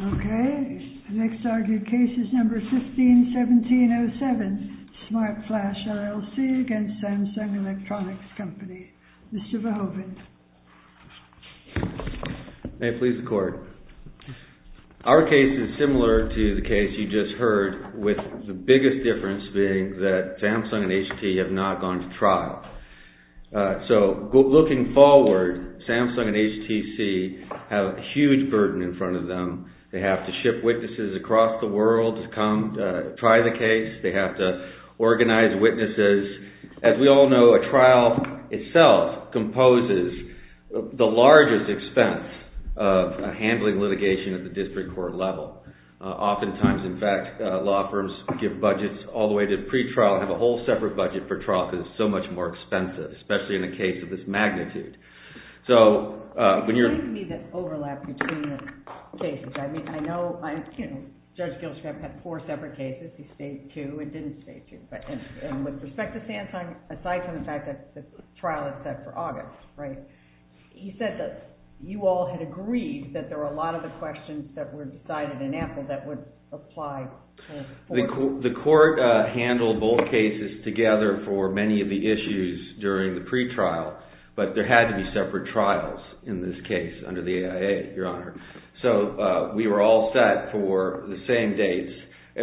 Okay, the next argued case is number 151707, SmartFlash LLC against Samsung Electronics Company. Mr. Verhoeven. May it please the court. Our case is similar to the case you just heard with the biggest difference being that Samsung and HT have not gone to trial. So looking forward, Samsung and HTC have a huge burden in front of them. They have to ship witnesses across the world to come try the case. They have to organize witnesses. As we all know, a trial itself composes the largest expense of handling litigation at the district court level. Oftentimes, in fact, law firms give budgets all the way to pre-trial and have a whole separate budget for trial because it's so much more expensive, especially in a case of this magnitude. So when you're... It seems to me there's overlap between the cases. I mean, I know Judge Gilchrist had four separate cases. He stayed two and didn't stay two. And with respect to Samsung, aside from the fact that the trial is set for August, right, he said that you all had agreed that there were a lot of the questions that were decided in Apple that would apply to the court. The court handled both cases together for many of the issues during the pre-trial, but there had to be separate trials in this case under the AIA, Your Honor. So we were all set for the same dates.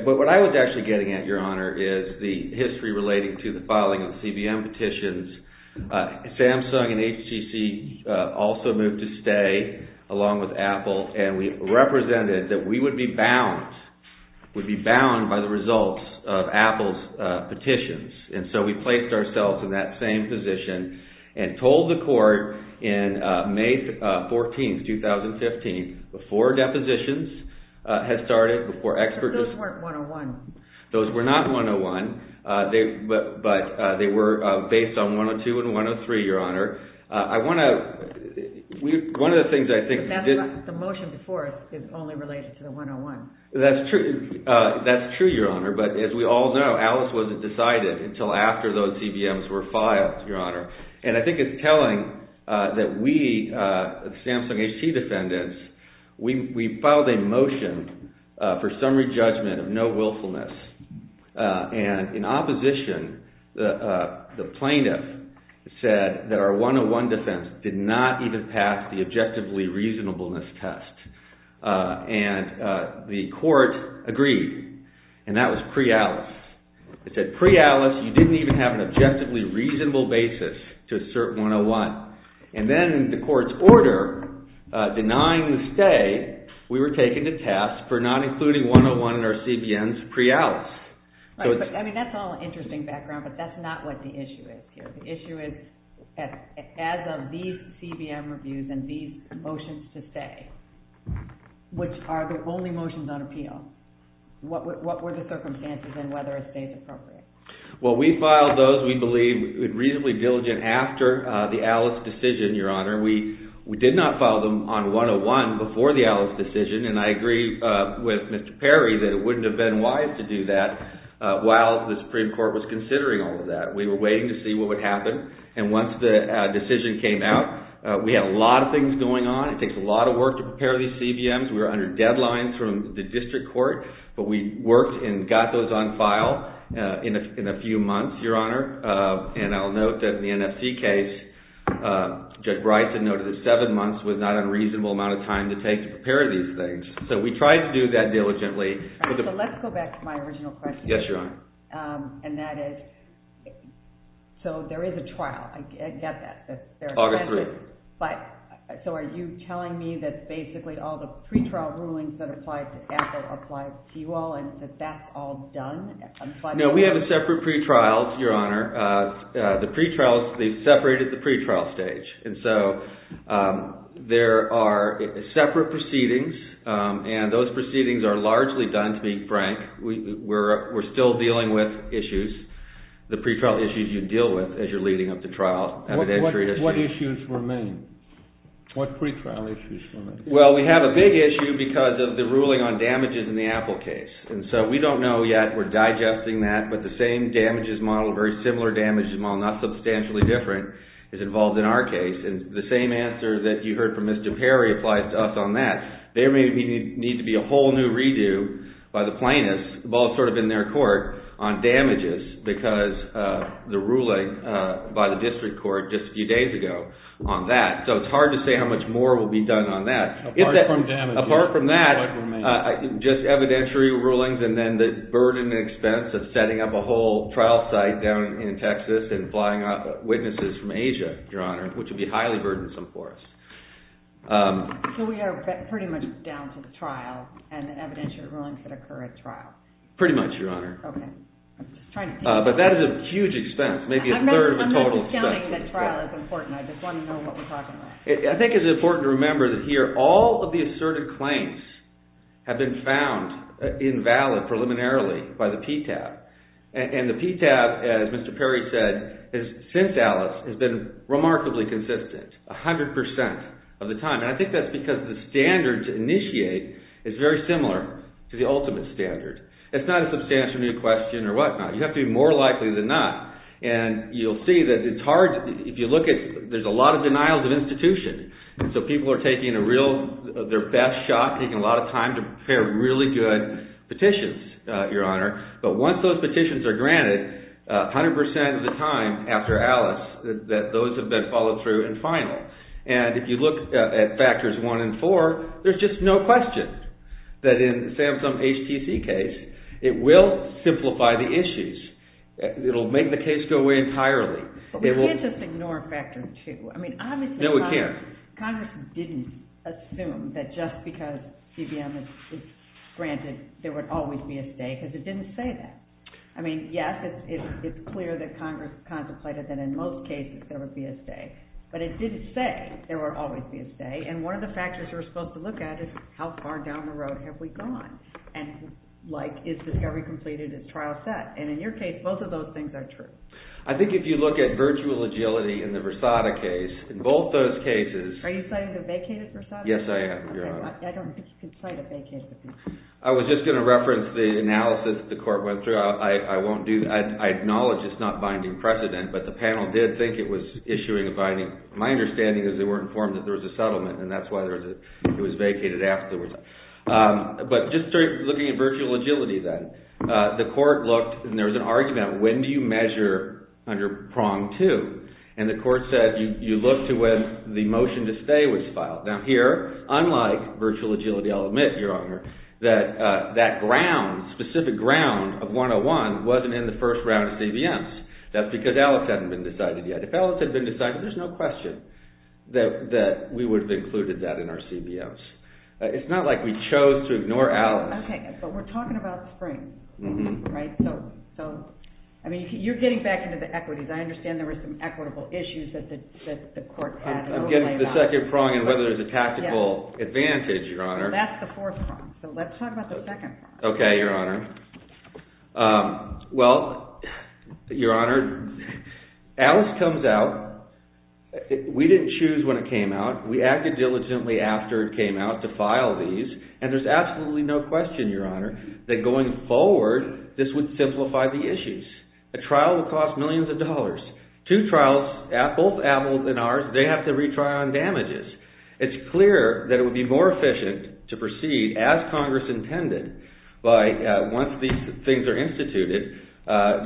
But what I was actually getting at, Your Honor, is the history relating to the filing of CBM petitions. Samsung and HCC also moved to stay along with Apple, and we represented that we would be bound, would be bound by the results of Apple's petitions. And so we placed ourselves in that same position and told the court in May 14th, 2015, before depositions had started, before expert... But those weren't 101. Those were not 101, but they were based on 102 and 103, Your Honor. I want to... One of the things I think... But that's right. The motion before is only related to the 101. That's true. That's true, Your Honor. But as we all know, Alice wasn't decided until after those CBMs were filed, Your Honor. And I think it's telling that we, the Samsung HT defendants, we filed a motion for summary reasonableness. And in opposition, the plaintiff said that our 101 defense did not even pass the objectively reasonableness test. And the court agreed, and that was pre-Alice. It said pre-Alice, you didn't even have an objectively reasonable basis to assert 101. And then the court's order denying the stay, we were taken to task for not including 101 in our CBMs pre-Alice. Right. But, I mean, that's all interesting background, but that's not what the issue is here. The issue is, as of these CBM reviews and these motions to stay, which are the only motions on appeal, what were the circumstances and whether a stay is appropriate? Well, we filed those, we believe, reasonably diligent after the Alice decision, Your Honor. We did not file them on 101 before the Alice decision. And I agree with Mr. Perry that it wouldn't have been wise to do that while the Supreme Court was considering all of that. We were waiting to see what would happen. And once the decision came out, we had a lot of things going on. It takes a lot of work to prepare these CBMs. We were under deadlines from the district court, but we worked and got those on file in a few months, Your Honor. And I'll note that in the NFC case, Judge Bryson noted that seven months was not a reasonable amount of time to take to prepare these things. So we tried to do that diligently. All right, so let's go back to my original question. Yes, Your Honor. And that is, so there is a trial. I get that. August 3rd. But, so are you telling me that basically all the pretrial rulings that applied to Apple applied to you all and that that's all done? No, we have a separate pretrial, Your Honor. The pretrial, they separated the pretrial stage. And so there are separate proceedings and those proceedings are largely done, to be frank. We're still dealing with issues, the pretrial issues you deal with as you're leading up to trial. What issues remain? What pretrial issues remain? Well, we have a big issue because of the ruling on damages in the Apple case. And so we don't know yet. We're digesting that. But the same damages model, a very similar damages model, not substantially different, is involved in our case. And the same answer that you heard from Mr. Perry applies to us on that. There may need to be a whole new redo by the plaintiffs, both sort of in their court, on damages because the ruling by the district court just a few days ago on that. So it's hard to say how much more will be done on that. Apart from that, just evidentiary rulings and then the burden and expense of setting up a whole trial site down in Texas and flying up witnesses from Asia, Your Honor, which would be highly burdensome for us. So we are pretty much down to the trial and the evidentiary rulings that occur at trial? Pretty much, Your Honor. Okay. I'm just trying to think. But that is a huge expense, maybe a third of the total expense. I'm not discounting that trial is important. I just want to know what we're talking about. I think it's important to remember that here all of the asserted claims have been found invalid preliminarily by the PTAB. And the PTAB, as Mr. Perry said, since Alice has been remarkably consistent 100% of the time. And I think that's because the standard to initiate is very similar to the ultimate standard. It's not a substantial new question or whatnot. You have to be more likely than not. And you'll see that it's hard, if you look at, there's a lot of denials of institution. So people are taking their best shot, taking a lot of time to prepare really good petitions, Your Honor. But once those petitions are granted, 100% of the time after Alice, those have been followed through and finaled. And if you look at factors one and four, there's just no question that in the Samsung HTC case, it will simplify the issues. It'll make the case go away entirely. We can't just ignore factors two. No, we can't. Congress didn't assume that just because CBM is granted, there would always be a stay. Because it didn't say that. I mean, yes, it's clear that Congress contemplated that in most cases there would be a stay. But it didn't say there would always be a stay. And one of the factors we're supposed to look at is how far down the road have we gone? And is discovery completed? Is trial set? And in your case, both of those things are true. I think if you look at virtual agility in the Versada case, in both those cases... Are you citing the vacated Versada? Yes, I am, Your Honor. I don't think you can cite a vacated Versada. I was just going to reference the analysis that the court went through. I won't do that. I acknowledge it's not binding precedent. But the panel did think it was issuing a binding... My understanding is they weren't informed that there was a settlement. And that's why it was vacated afterwards. But just looking at virtual agility then. The court looked and there was an argument. When do you measure under prong two? And the court said you look to when the motion to stay was filed. Now here, unlike virtual agility, I'll admit, Your Honor, that that specific ground of 101 wasn't in the first round of CBMs. That's because Alex hadn't been decided yet. If Alex had been decided, there's no question that we would have included that in our CBMs. It's not like we chose to ignore Alex. We're talking about the spring. You're getting back into the equities. I understand there were some equitable issues that the court had. I'm getting to the second prong and whether there's a tactical advantage, Your Honor. That's the fourth prong. Let's talk about the second prong. Okay, Your Honor. Well, Your Honor, Alex comes out. We didn't choose when it came out. We acted diligently after it came out to file these. And there's absolutely no question, Your Honor, that going forward, this would simplify the issues. A trial would cost millions of dollars. Two trials, both Apples and ours, they have to retry on damages. It's clear that it would be more efficient to proceed as Congress intended by once these things are instituted,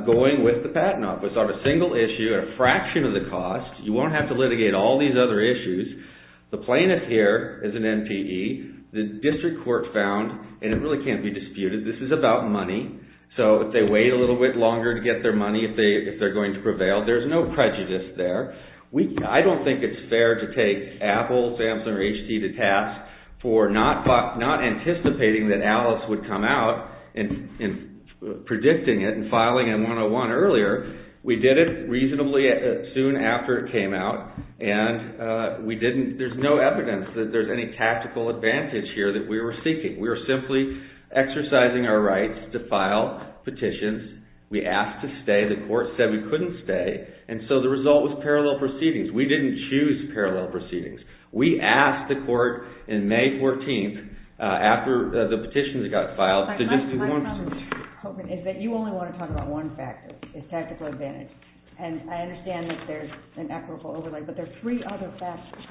going with the patent office on a single issue at a fraction of the cost. You won't have to litigate all these other issues. The plaintiff here is an MPE. The district court found, and it really can't be disputed, this is about money. So if they wait a little bit longer to get their money, if they're going to prevail, there's no prejudice there. I don't think it's fair to take Apple, Samsung, or HD to task for not anticipating that Alice would come out and predicting it and filing a 101 earlier. We did it reasonably soon after it came out. There's no evidence that there's any tactical advantage here that we were seeking. We were simply exercising our rights to file petitions. We asked to stay. The court said we couldn't stay. And so the result was parallel proceedings. We didn't choose parallel proceedings. We asked the court in May 14th, after the petitions got filed, to just do one procedure. My comment, Hogan, is that you only want to talk about one factor. It's tactical advantage. And I understand that there's an equitable overlay, but there are three other factors.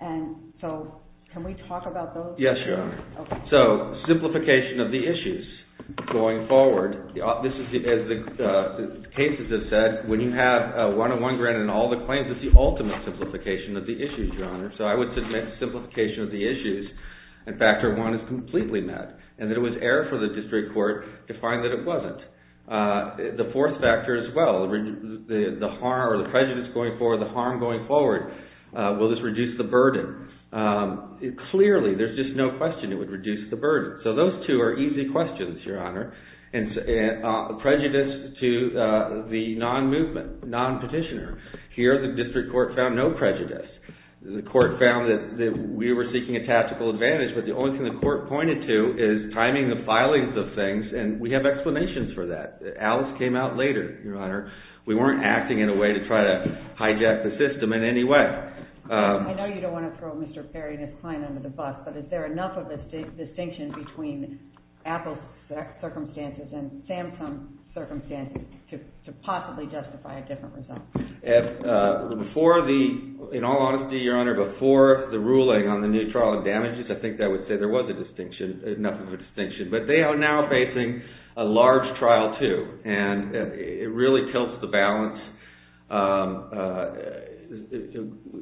And so can we talk about those? Yes, Your Honor. So simplification of the issues going forward. As the cases have said, when you have a 101 granted and all the claims, it's the ultimate simplification of the issues, Your Honor. So I would submit simplification of the issues, and factor one is completely met, and that it was error for the district court to find that it wasn't. The fourth factor as well, the harm or the prejudice going forward, the harm going forward. Will this reduce the burden? Clearly, there's just no question it would reduce the burden. So those two are easy questions, Your Honor. And prejudice to the non-movement, non-petitioner. Here, the district court found no prejudice. The court found that we were seeking a tactical advantage, but the only thing the court pointed to is timing the filings of things, and we have explanations for that. Alice came out later, Your Honor. We weren't acting in a way to try to hijack the system in any way. I know you don't want to throw Mr. Perry and his client under the bus, but is there enough of a distinction between Apple's circumstances and Samsung's circumstances to possibly justify a different result? Before the, in all honesty, Your Honor, before the ruling on the new trial of damages, I think I would say there was a distinction, enough of a distinction. But they are now facing a large trial too, and it really tilts the balance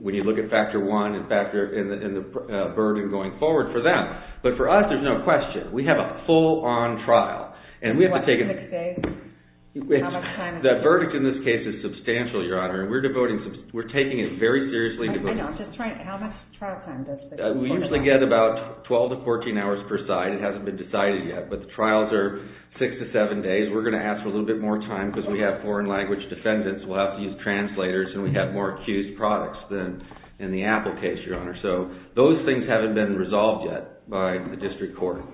when you look at Factor 1 and the burden going forward for them. But for us, there's no question. We have a full-on trial, and we have to take a... What, six days? How much time? The verdict in this case is substantial, Your Honor, and we're taking it very seriously. I know, I'm just trying to, how much trial time does the court... We usually get about 12 to 14 hours per side. It hasn't been decided yet. But the trials are six to seven days. We're going to ask for a little bit more time because we have foreign language defendants. We'll have to use translators, and we have more accused products than in the Apple case, Your Honor. So those things haven't been resolved yet by the district court.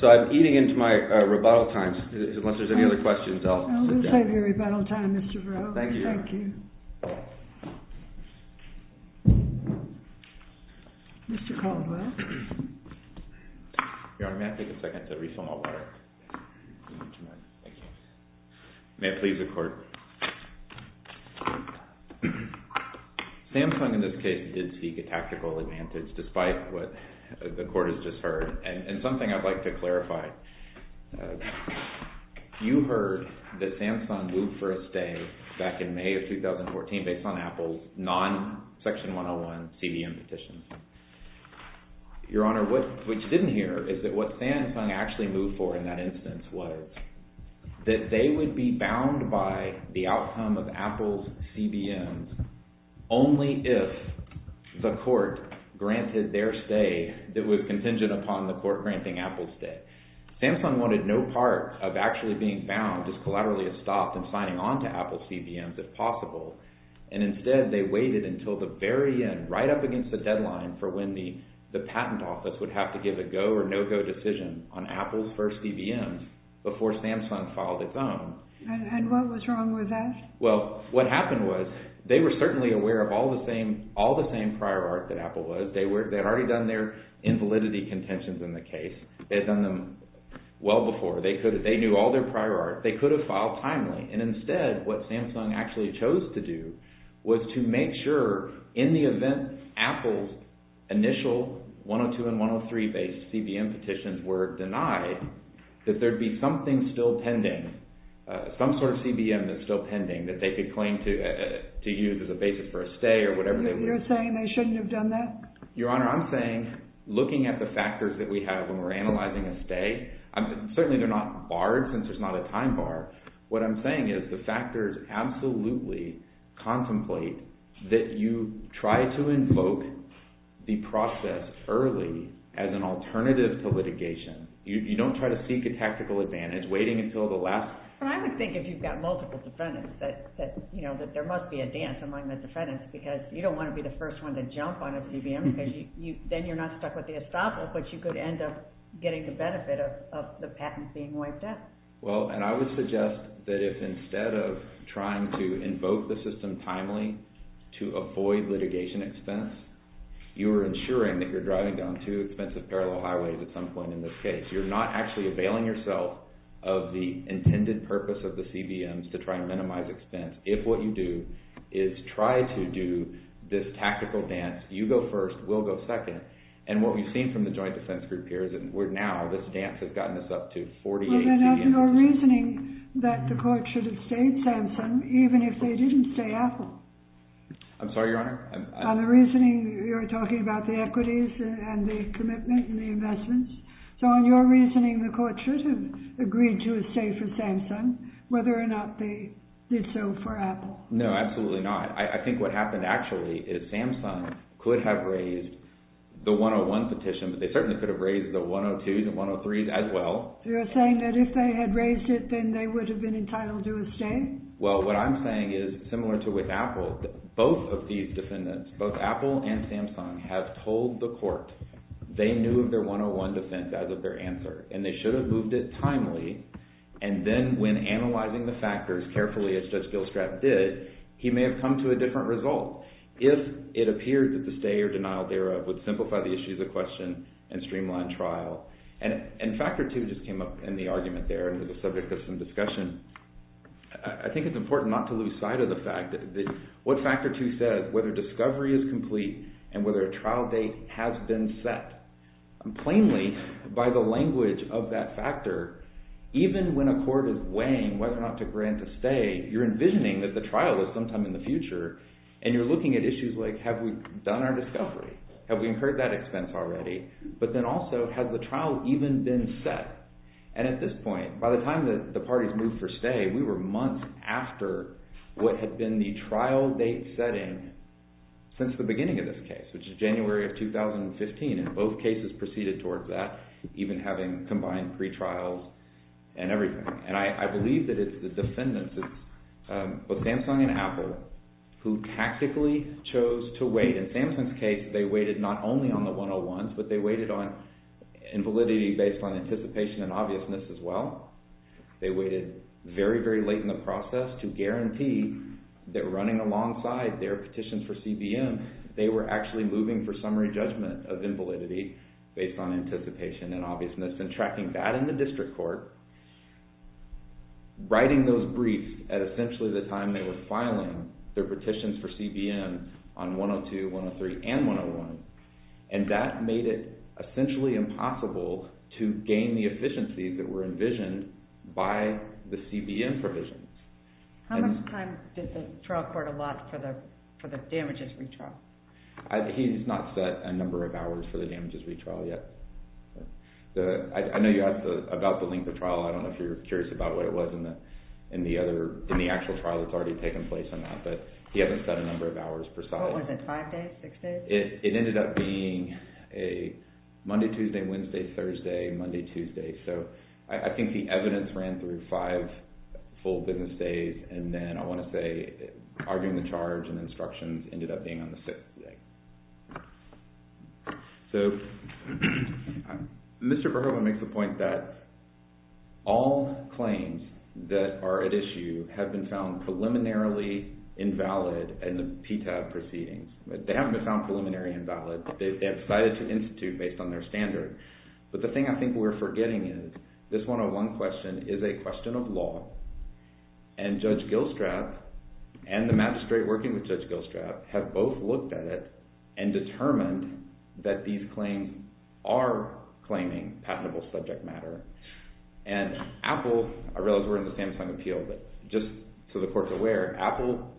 So I'm eating into my rebuttal time. Unless there's any other questions, I'll sit down. We'll save your rebuttal time, Mr. Burroughs. Thank you. Thank you. Mr. Caldwell. Your Honor, may I take a second to refill my water? Thank you. May it please the court. Samsung, in this case, did seek a tactical advantage despite what the court has just heard, and something I'd like to clarify. You heard that Samsung moved for a stay back in May of 2014 based on Apple's non-Section 101 CBM petitions. Your Honor, what you didn't hear is that what Samsung actually moved for in that instance was that they would be bound by the outcome of Apple's CBMs only if the court granted their stay that was contingent upon the court granting Apple's stay. Samsung wanted no part of actually being bound, just collaterally stopped and signing on to Apple's CBMs if possible. And instead, they waited until the very end, right up against the deadline for when the patent office would have to give a go or no-go decision on Apple's first CBMs before Samsung filed its own. And what was wrong with that? Well, what happened was they were certainly aware of all the same prior art that Apple was. They had already done their invalidity contentions in the case. They had done them well before. They knew all their prior art. They could have filed timely. And instead, what Samsung actually chose to do was to make sure in the event Apple's initial 102 and 103-based CBM petitions were denied that there'd be something still pending, some sort of CBM that's still pending that they could claim to use as a basis for a stay or whatever. You're saying they shouldn't have done that? Your Honor, I'm saying looking at the factors that we have when we're analyzing a stay, certainly they're not barred since there's not a time bar. What I'm saying is the factors absolutely contemplate that you try to invoke the process early as an alternative to litigation. You don't try to seek a tactical advantage waiting until the last... I would think if you've got multiple defendants that there must be a dance among the defendants because you don't want to be the first one to jump on a CBM because then you're not stuck with the estoppel, but you could end up getting the benefit of the patent being wiped out. Well, and I would suggest that if instead of trying to invoke the system timely to avoid litigation expense, you're ensuring that you're driving down two expensive parallel highways at some point in this case. You're not actually availing yourself of the intended purpose of the CBMs to try and minimize expense. If what you do is try to do this tactical dance, you go first, we'll go second, and what we've seen from the Joint Defense Group here is that now this dance has gotten us up to 48 CBMs. Well, then that's your reasoning that the court should have stayed Samsung even if they didn't stay Apple. I'm sorry, Your Honor? On the reasoning you're talking about the equities and the commitment and the investments. So on your reasoning, the court should have agreed to a stay for Samsung whether or not they did so for Apple. No, absolutely not. I think what happened actually is Samsung could have raised the 101 petition, but they certainly could have raised the 102, the 103 as well. You're saying that if they had raised it, then they would have been entitled to a stay? Well, what I'm saying is similar to with Apple, both of these defendants, both Apple and Samsung, have told the court they knew of their 101 defense as of their answer, and they should have moved it timely, and then when analyzing the factors carefully as Judge Gilstrap did, he may have come to a different result. If it appeared that the stay or denial thereof would simplify the issue of the question and streamline trial, and Factor 2 just came up in the argument there and was the subject of some discussion, I think it's important not to lose sight of the fact that what Factor 2 says, whether discovery is complete and whether a trial date has been set, plainly by the language of that factor, even when a court is weighing whether or not to grant a stay, you're envisioning that the trial is sometime in the future and you're looking at issues like, have we done our discovery? Have we incurred that expense already? But then also, has the trial even been set? And at this point, by the time the parties moved for stay, we were months after what had been the trial date setting since the beginning of this case, which is January of 2015, and both cases proceeded towards that, even having combined pretrials and everything. And I believe that it's the defendants, both Samsung and Apple, who tactically chose to wait. In Samsung's case, they waited not only on the 101s, but they waited on invalidity based on anticipation and obviousness as well. They waited very, very late in the process to guarantee that running alongside their petitions for CBM, they were actually moving for summary judgment of invalidity based on anticipation and obviousness and tracking that in the district court, writing those briefs at essentially the time they were filing their petitions for CBM on 102, 103, and 101. And that made it essentially impossible to gain the efficiencies that were envisioned by the CBM provisions. How much time did the trial court allot for the damages retrial? He's not set a number of hours for the damages retrial yet. I know you asked about the length of trial. I don't know if you're curious about what it was in the actual trial that's already taken place on that, but he hasn't set a number of hours per side. What was it, five days, six days? It ended up being a Monday, Tuesday, Wednesday, Thursday, Monday, Tuesday. So I think the evidence ran through five full business days, and then I want to say arguing the charge and instructions ended up being on the sixth day. So Mr. Verhoeven makes the point that all claims that are at issue have been found preliminarily invalid in the PTAB proceedings. They haven't been found preliminary invalid. They have decided to institute based on their standard. But the thing I think we're forgetting is this 101 question is a question of law, and Judge Gilstrap and the magistrate working with Judge Gilstrap have both looked at it and determined that these claims are claiming patentable subject matter. And Apple, I realize we're in the same time appeal, but just so the Court's aware, Apple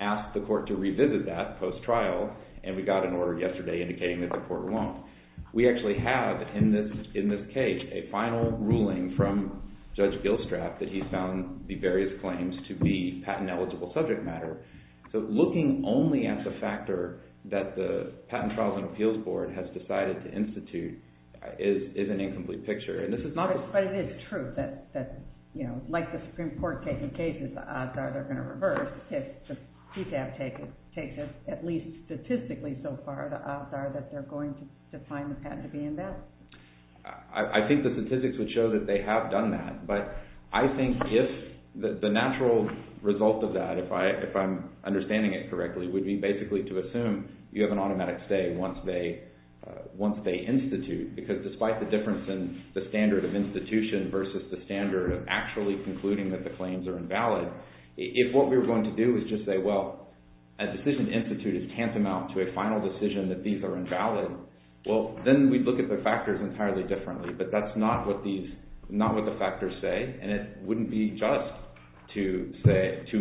asked the Court to revisit that post-trial, and we got an order yesterday indicating that the Court won't. We actually have in this case a final ruling from Judge Gilstrap that he found the various claims to be patent-eligible subject matter. So looking only at the factor that the Patent Trials and Appeals Board has decided to institute is an incomplete picture. But it is true that like the Supreme Court taking cases, the odds are they're going to reverse if the PTAB takes at least statistically so far the odds are that they're going to find the patent to be invalid. I think the statistics would show that they have done that, but I think if the natural result of that, if I'm understanding it correctly, would be basically to assume you have an automatic say once they institute. Because despite the difference in the standard of institution versus the standard of actually concluding that the claims are invalid, if what we were going to do was just say, well, a decision to institute is tantamount to a final decision that these are invalid, well, then we'd look at the factors entirely differently. But that's not what the factors say, and it wouldn't be just to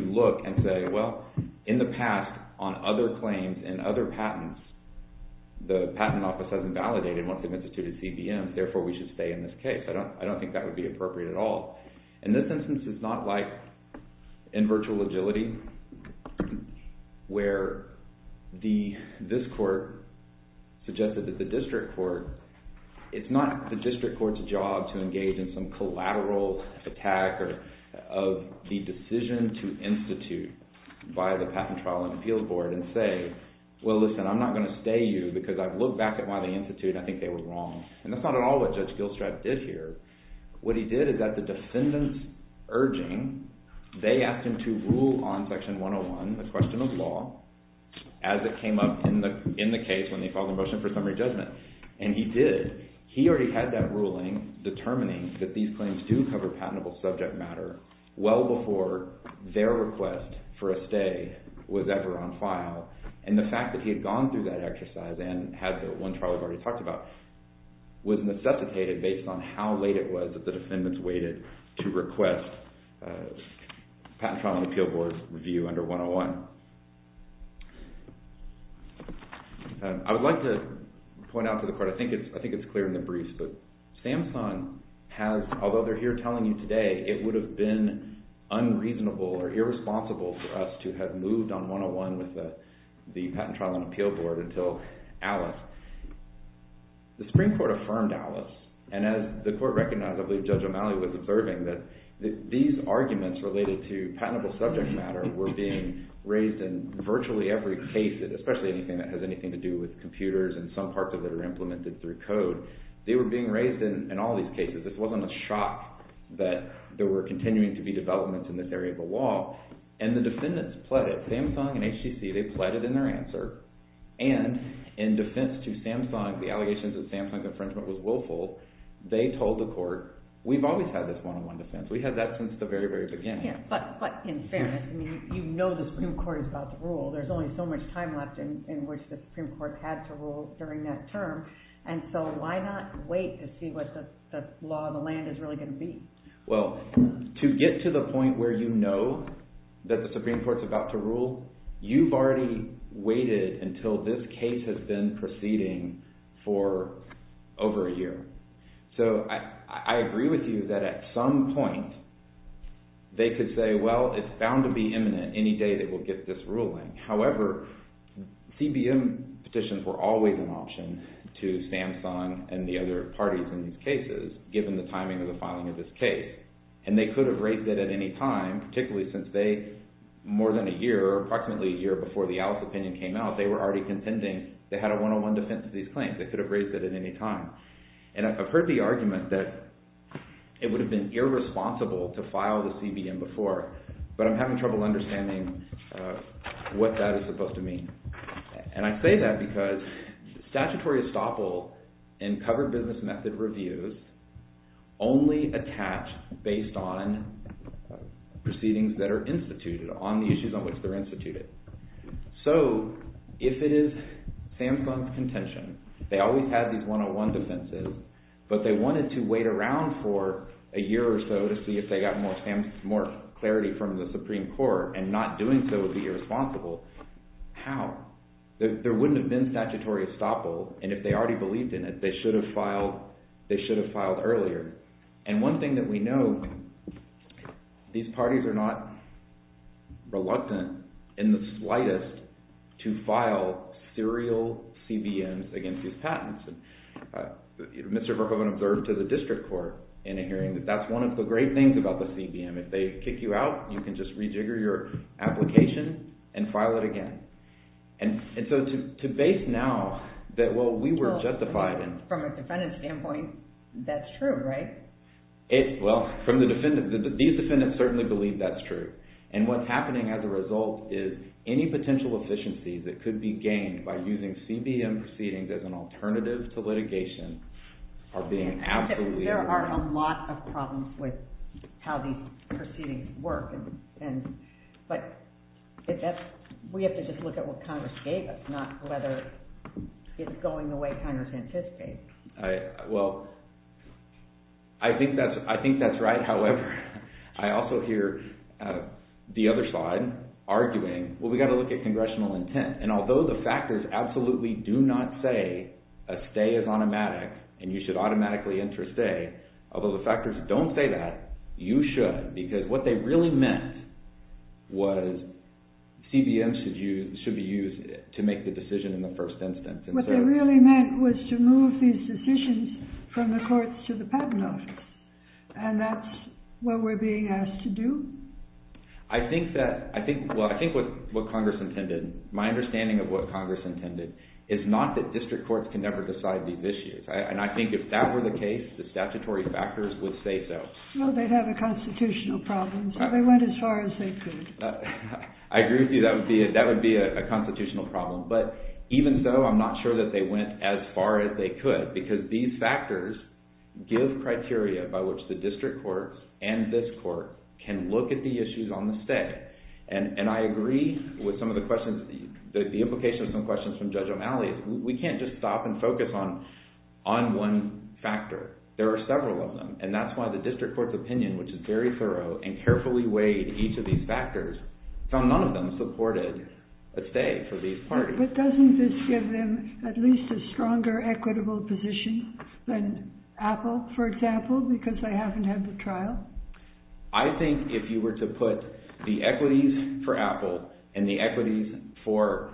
look and say, well, in the past on other claims and other patents, the Patent Office has invalidated once they've instituted CBM, therefore we should stay in this case. I don't think that would be appropriate at all. And this instance is not like in virtual agility where this court suggested that the district court, it's not the district court's job to engage in some collateral attack of the decision to institute by the Patent Trial and Appeals Board and say, well, listen, I'm not going to stay you because I've looked back at why they instituted and I think they were wrong. And that's not at all what Judge Gilstrat did here. What he did is at the defendant's urging, they asked him to rule on Section 101, the question of law, as it came up in the case when they filed the motion for summary judgment. And he did. He already had that ruling determining that these claims do cover patentable subject matter well before their request for a stay was ever on file. And the fact that he had gone through that exercise and had the one trial we've already talked about was necessitated based on how late it was that the defendants waited to request Patent Trial and Appeals Board's review under 101. I would like to point out to the court, I think it's clear in the briefs, but Samsung has, although they're here telling you today, it would have been unreasonable or irresponsible for us to have moved on 101 with the Patent Trial and Appeals Board until Alice. The Supreme Court affirmed Alice, and as the court recognized, I believe Judge O'Malley was observing, that these arguments related to patentable subject matter were being raised in virtually every case, especially anything that has anything to do with computers and some parts of it are implemented through code. They were being raised in all these cases. This wasn't a shock that there were continuing to be developments in this area of the law, and the defendants pled it. Samsung and HTC, they pled it in their answer, and in defense to Samsung, the allegations that Samsung's infringement was willful, they told the court, we've always had this one-on-one defense. We've had that since the very, very beginning. But in fairness, you know the Supreme Court is about to rule. There's only so much time left in which the Supreme Court has to rule during that term, and so why not wait to see what the law of the land is really going to be? Well, to get to the point where you know that the Supreme Court's about to rule, you've already waited until this case has been proceeding for over a year. So I agree with you that at some point, they could say, well, it's bound to be imminent any day they will get this ruling. However, CBM petitions were always an option to Samsung and the other parties in these cases, given the timing of the filing of this case. And they could have raised it at any time, particularly since they, more than a year, approximately a year before the Alice opinion came out, they were already contending they had a one-on-one defense to these claims. They could have raised it at any time. And I've heard the argument that it would have been irresponsible to file the CBM before, but I'm having trouble understanding what that is supposed to mean. And I say that because statutory estoppel in covered business method reviews only attach based on proceedings that are instituted, on the issues on which they're instituted. So if it is Samsung's contention, they always had these one-on-one defenses, but they wanted to wait around for a year or so to see if they got more clarity from the Supreme Court and not doing so would be irresponsible. How? There wouldn't have been statutory estoppel, and if they already believed in it, they should have filed earlier. And one thing that we know, these parties are not reluctant in the slightest to file serial CBMs against these patents. Mr. Verhoeven observed to the district court in a hearing that that's one of the great things about the CBM. If they kick you out, you can just rejigger your application and file it again. And so to base now that, well, we were justified in... Well, from a defendant's standpoint, that's true, right? Well, these defendants certainly believe that's true. And what's happening as a result is any potential efficiency that could be gained by using CBM proceedings as an alternative to litigation are being absolutely... There are a lot of problems with how these proceedings work, but we have to just look at what Congress gave us, not whether it's going the way Congress anticipated. Well, I think that's right. However, I also hear the other side arguing, well, we've got to look at congressional intent. And although the factors absolutely do not say a stay is automatic and you should automatically enter a stay, although the factors don't say that, you should, because what they really meant was CBM should be used to make the decision in the first instance. What they really meant was to move these decisions from the courts to the patent office, and that's what we're being asked to do? I think that... Well, I think what Congress intended, my understanding of what Congress intended is not that district courts can never decide these issues. And I think if that were the case, the statutory factors would say so. Well, they'd have a constitutional problem, so they went as far as they could. I agree with you, that would be a constitutional problem. But even so, I'm not sure that they went as far as they could, because these factors give criteria by which the district courts and this court can look at the issues on the stay. And I agree with some of the questions, the implications of some questions from Judge O'Malley. We can't just stop and focus on one factor. There are several of them, and that's why the district court's opinion, which is very thorough and carefully weighed each of these factors, found none of them supported a stay for these parties. But doesn't this give them at least a stronger equitable position than Apple, for example, because they haven't had the trial? I think if you were to put the equities for Apple and the equities for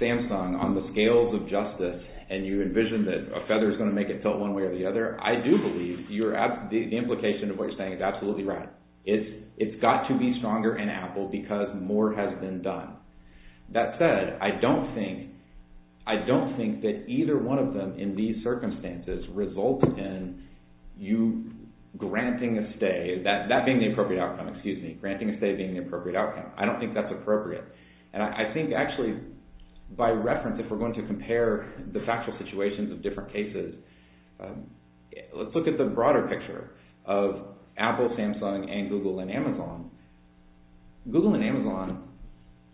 Samsung on the scales of justice and you envision that a feather's going to make it tilt one way or the other, I do believe the implication of what you're saying is absolutely right. It's got to be stronger in Apple because more has been done. That said, I don't think that either one of them in these circumstances results in you granting a stay, that being the appropriate outcome, excuse me, And I think actually by reference, if we're going to compare the factual situations of different cases, let's look at the broader picture of Apple, Samsung, and Google and Amazon. Google and Amazon,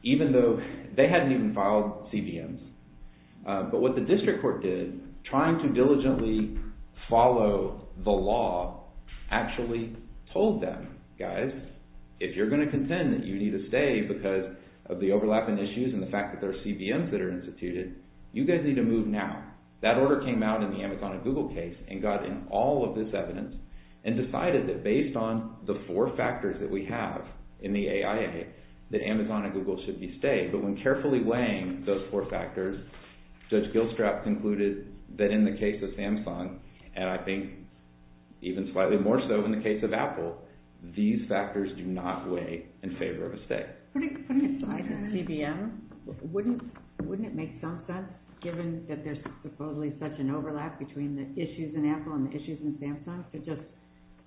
even though they hadn't even filed CBMs, but what the district court did, trying to diligently follow the law, actually told them, guys, if you're going to contend that you need a stay because of the overlapping issues and the fact that there are CBMs that are instituted, you guys need to move now. That order came out in the Amazon and Google case and got in all of this evidence and decided that based on the four factors that we have in the AIA, that Amazon and Google should be stayed. But when carefully weighing those four factors, Judge Gilstrap concluded that in the case of Samsung, and I think even slightly more so in the case of Apple, these factors do not weigh in favor of a stay. Putting aside the CBMs, wouldn't it make some sense, given that there's supposedly such an overlap between the issues in Apple and the issues in Samsung, to just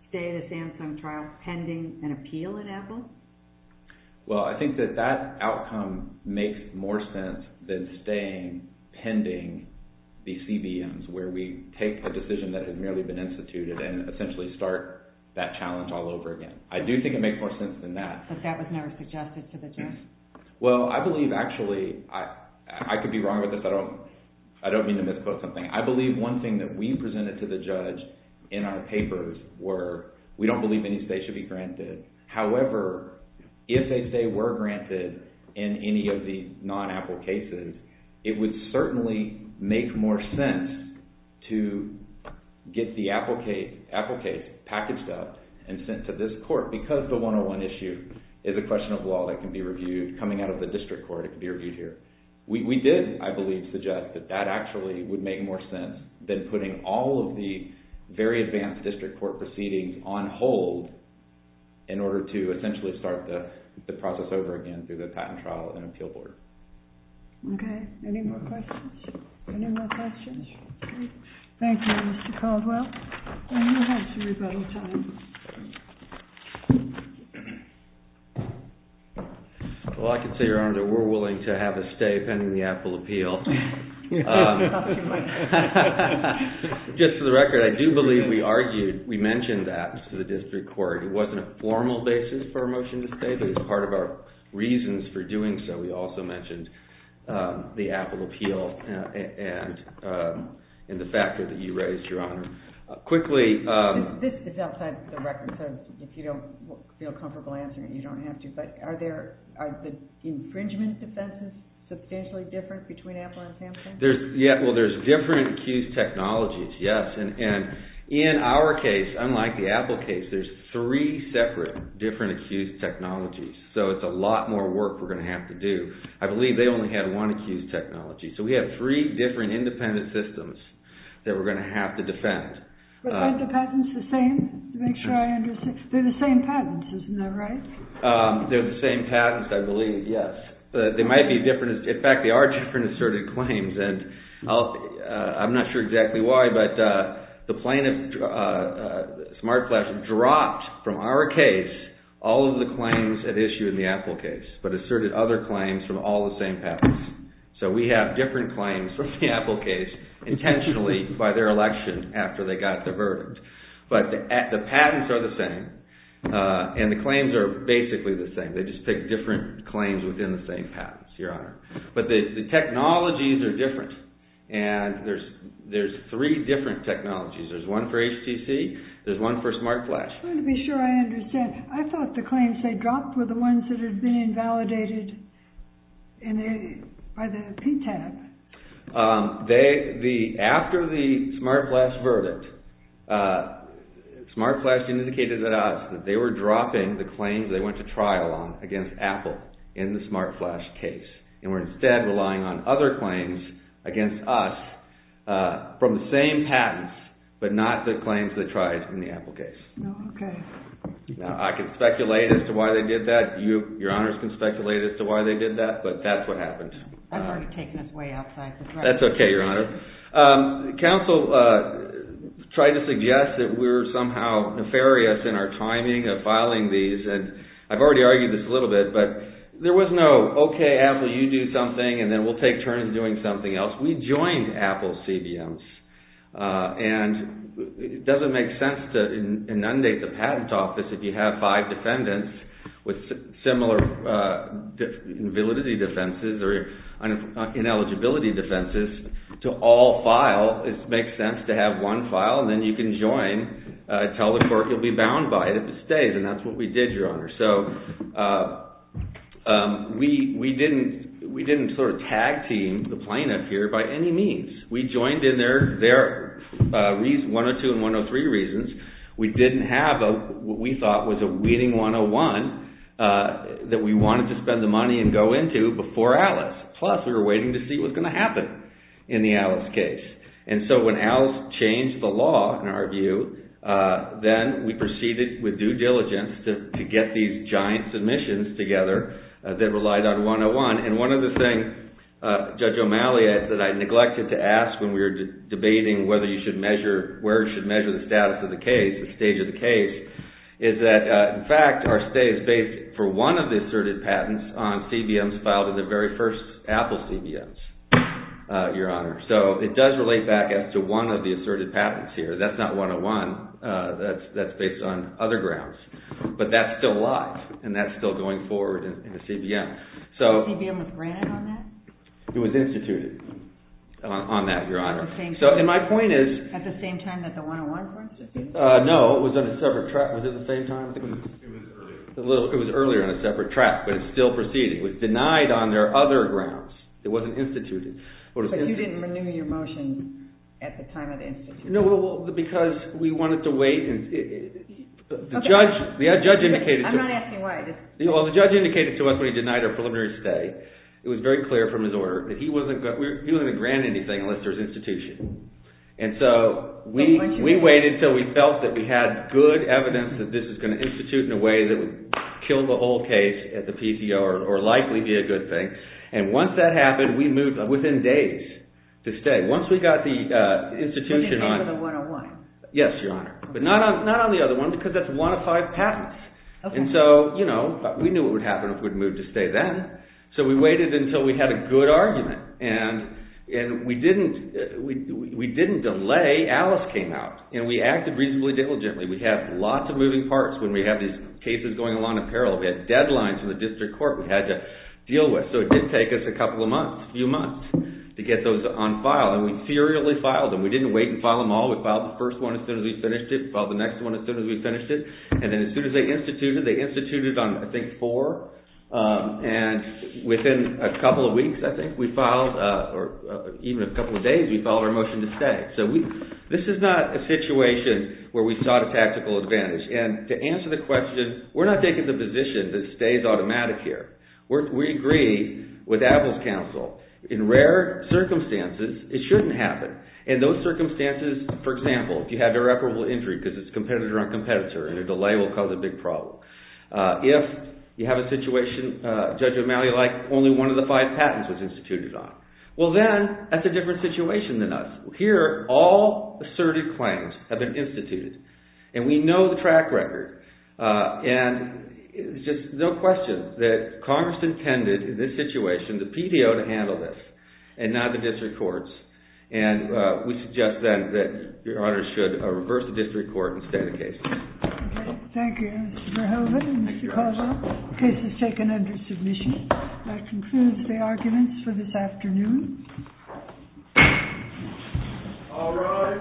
stay the Samsung trial pending an appeal in Apple? Well, I think that that outcome makes more sense than staying pending the CBMs, where we take a decision that has merely been instituted and essentially start that challenge all over again. I do think it makes more sense than that. But that was never suggested to the judge? Well, I believe, actually, I could be wrong with this. I don't mean to misquote something. I believe one thing that we presented to the judge in our papers were, we don't believe any stay should be granted. However, if a stay were granted in any of the non-Apple cases, it would certainly make more sense to get the Apple case packaged up and sent to this court, because the 101 issue is a question of law that can be reviewed coming out of the district court, it can be reviewed here. We did, I believe, suggest that that actually would make more sense than putting all of the very advanced district court proceedings on hold in order to essentially start the process over again through the patent trial and appeal board. Okay, any more questions? Any more questions? Thank you, Mr. Caldwell. Well, I can say, Your Honor, that we're willing to have a stay pending the Apple appeal. Just for the record, I do believe we argued, we mentioned that to the district court. I think it's part of our reasons for doing so. We also mentioned the Apple appeal and the factor that you raised, Your Honor. This is outside the record, so if you don't feel comfortable answering it, you don't have to. But are the infringement defenses substantially different between Apple and Samsung? Well, there's different accused technologies, yes. And in our case, unlike the Apple case, there's three separate different accused technologies. So it's a lot more work we're going to have to do. I believe they only had one accused technology. So we have three different independent systems that we're going to have to defend. But aren't the patents the same? Make sure I understand. They're the same patents, isn't that right? They're the same patents, I believe, yes. But they might be different. In fact, they are different asserted claims. I'm not sure exactly why, but the plaintiff, SmartFlash, dropped from our case all of the claims at issue in the Apple case, but asserted other claims from all the same patents. So we have different claims from the Apple case, intentionally by their election after they got the verdict. But the patents are the same, and the claims are basically the same. They just pick different claims within the same patents, Your Honor. But the technologies are different, and there's three different technologies. There's one for HTC. There's one for SmartFlash. I want to be sure I understand. I thought the claims they dropped were the ones that had been invalidated by the PTAB. After the SmartFlash verdict, SmartFlash indicated that they were dropping the claims they went to trial on against Apple in the SmartFlash case. And were instead relying on other claims against us from the same patents, but not the claims they tried in the Apple case. Okay. Now, I can speculate as to why they did that. Your Honors can speculate as to why they did that, but that's what happened. I thought you were taking us way outside the thread. That's okay, Your Honor. Counsel tried to suggest that we were somehow nefarious in our timing of filing these. I've already argued this a little bit, but there was no, okay, Apple, you do something, and then we'll take turns doing something else. We joined Apple's CBMs. And it doesn't make sense to inundate the patent office if you have five defendants with similar invalidity defenses or ineligibility defenses to all file. It makes sense to have one file, and then you can join, tell the court you'll be bound by it if it stays. And that's what we did, Your Honor. So we didn't sort of tag team the plaintiff here by any means. We joined in their 102 and 103 reasons. We didn't have what we thought was a weeding 101 that we wanted to spend the money and go into before Alice. Plus, we were waiting to see what was going to happen in the Alice case. And so when Alice changed the law, in our view, then we proceeded with due diligence to get these giant submissions together that relied on 101. And one of the things, Judge O'Malley, that I neglected to ask when we were debating whether you should measure, where you should measure the status of the case, the stage of the case, is that, in fact, our stay is based for one of the asserted patents on CBMs filed in the very first Apple CBMs, Your Honor. So it does relate back as to one of the asserted patents here. That's not 101. That's based on other grounds. But that's still live, and that's still going forward in the CBM. Was CBM granted on that? It was instituted on that, Your Honor. At the same time that the 101 was instituted? No, it was on a separate track. Was it the same time? It was earlier. It was earlier on a separate track, but it's still proceeding. It was denied on their other grounds. It wasn't instituted. But you didn't renew your motion at the time of the institution? No, because we wanted to wait. The judge indicated to us when he denied our preliminary stay, it was very clear from his order, that he wasn't going to grant anything unless there was institution. And so we waited until we felt that we had good evidence that this was going to institute in a way that would kill the whole case at the PTO or likely be a good thing. And once that happened, we moved within days to stay. Once we got the institution on... When did it come to the 101? Yes, Your Honor. But not on the other one, because that's one of five patents. And so, you know, we knew what would happen if we moved to stay then. So we waited until we had a good argument. And we didn't delay. Alice came out, and we acted reasonably diligently. We had lots of moving parts when we have these cases going along in peril. We had deadlines in the district court we had to deal with. So it did take us a couple of months, a few months, to get those on file. And we serially filed them. We didn't wait and file them all. We filed the first one as soon as we finished it. We filed the next one as soon as we finished it. And then as soon as they instituted, they instituted on, I think, four. And within a couple of weeks, I think, we filed, or even a couple of days, we filed our motion to stay. So this is not a situation where we sought a tactical advantage. And to answer the question, we're not taking the position that stay is automatic here. We agree with Apple's counsel. In rare circumstances, it shouldn't happen. In those circumstances, for example, if you had an irreparable injury because it's competitor on competitor, and a delay will cause a big problem. If you have a situation, Judge O'Malley, like only one of the five patents was instituted on. Well then, that's a different situation than us. Here, all asserted claims have been instituted. And we know the track record. And it's just no question that Congress intended in this situation the PDO to handle this and not the district courts. And we suggest then that Your Honor should reverse the district court and stay the case. Thank you, Mr. Verhoeven and Mr. Caldwell. The case is taken under submission. That concludes the arguments for this afternoon. All rise.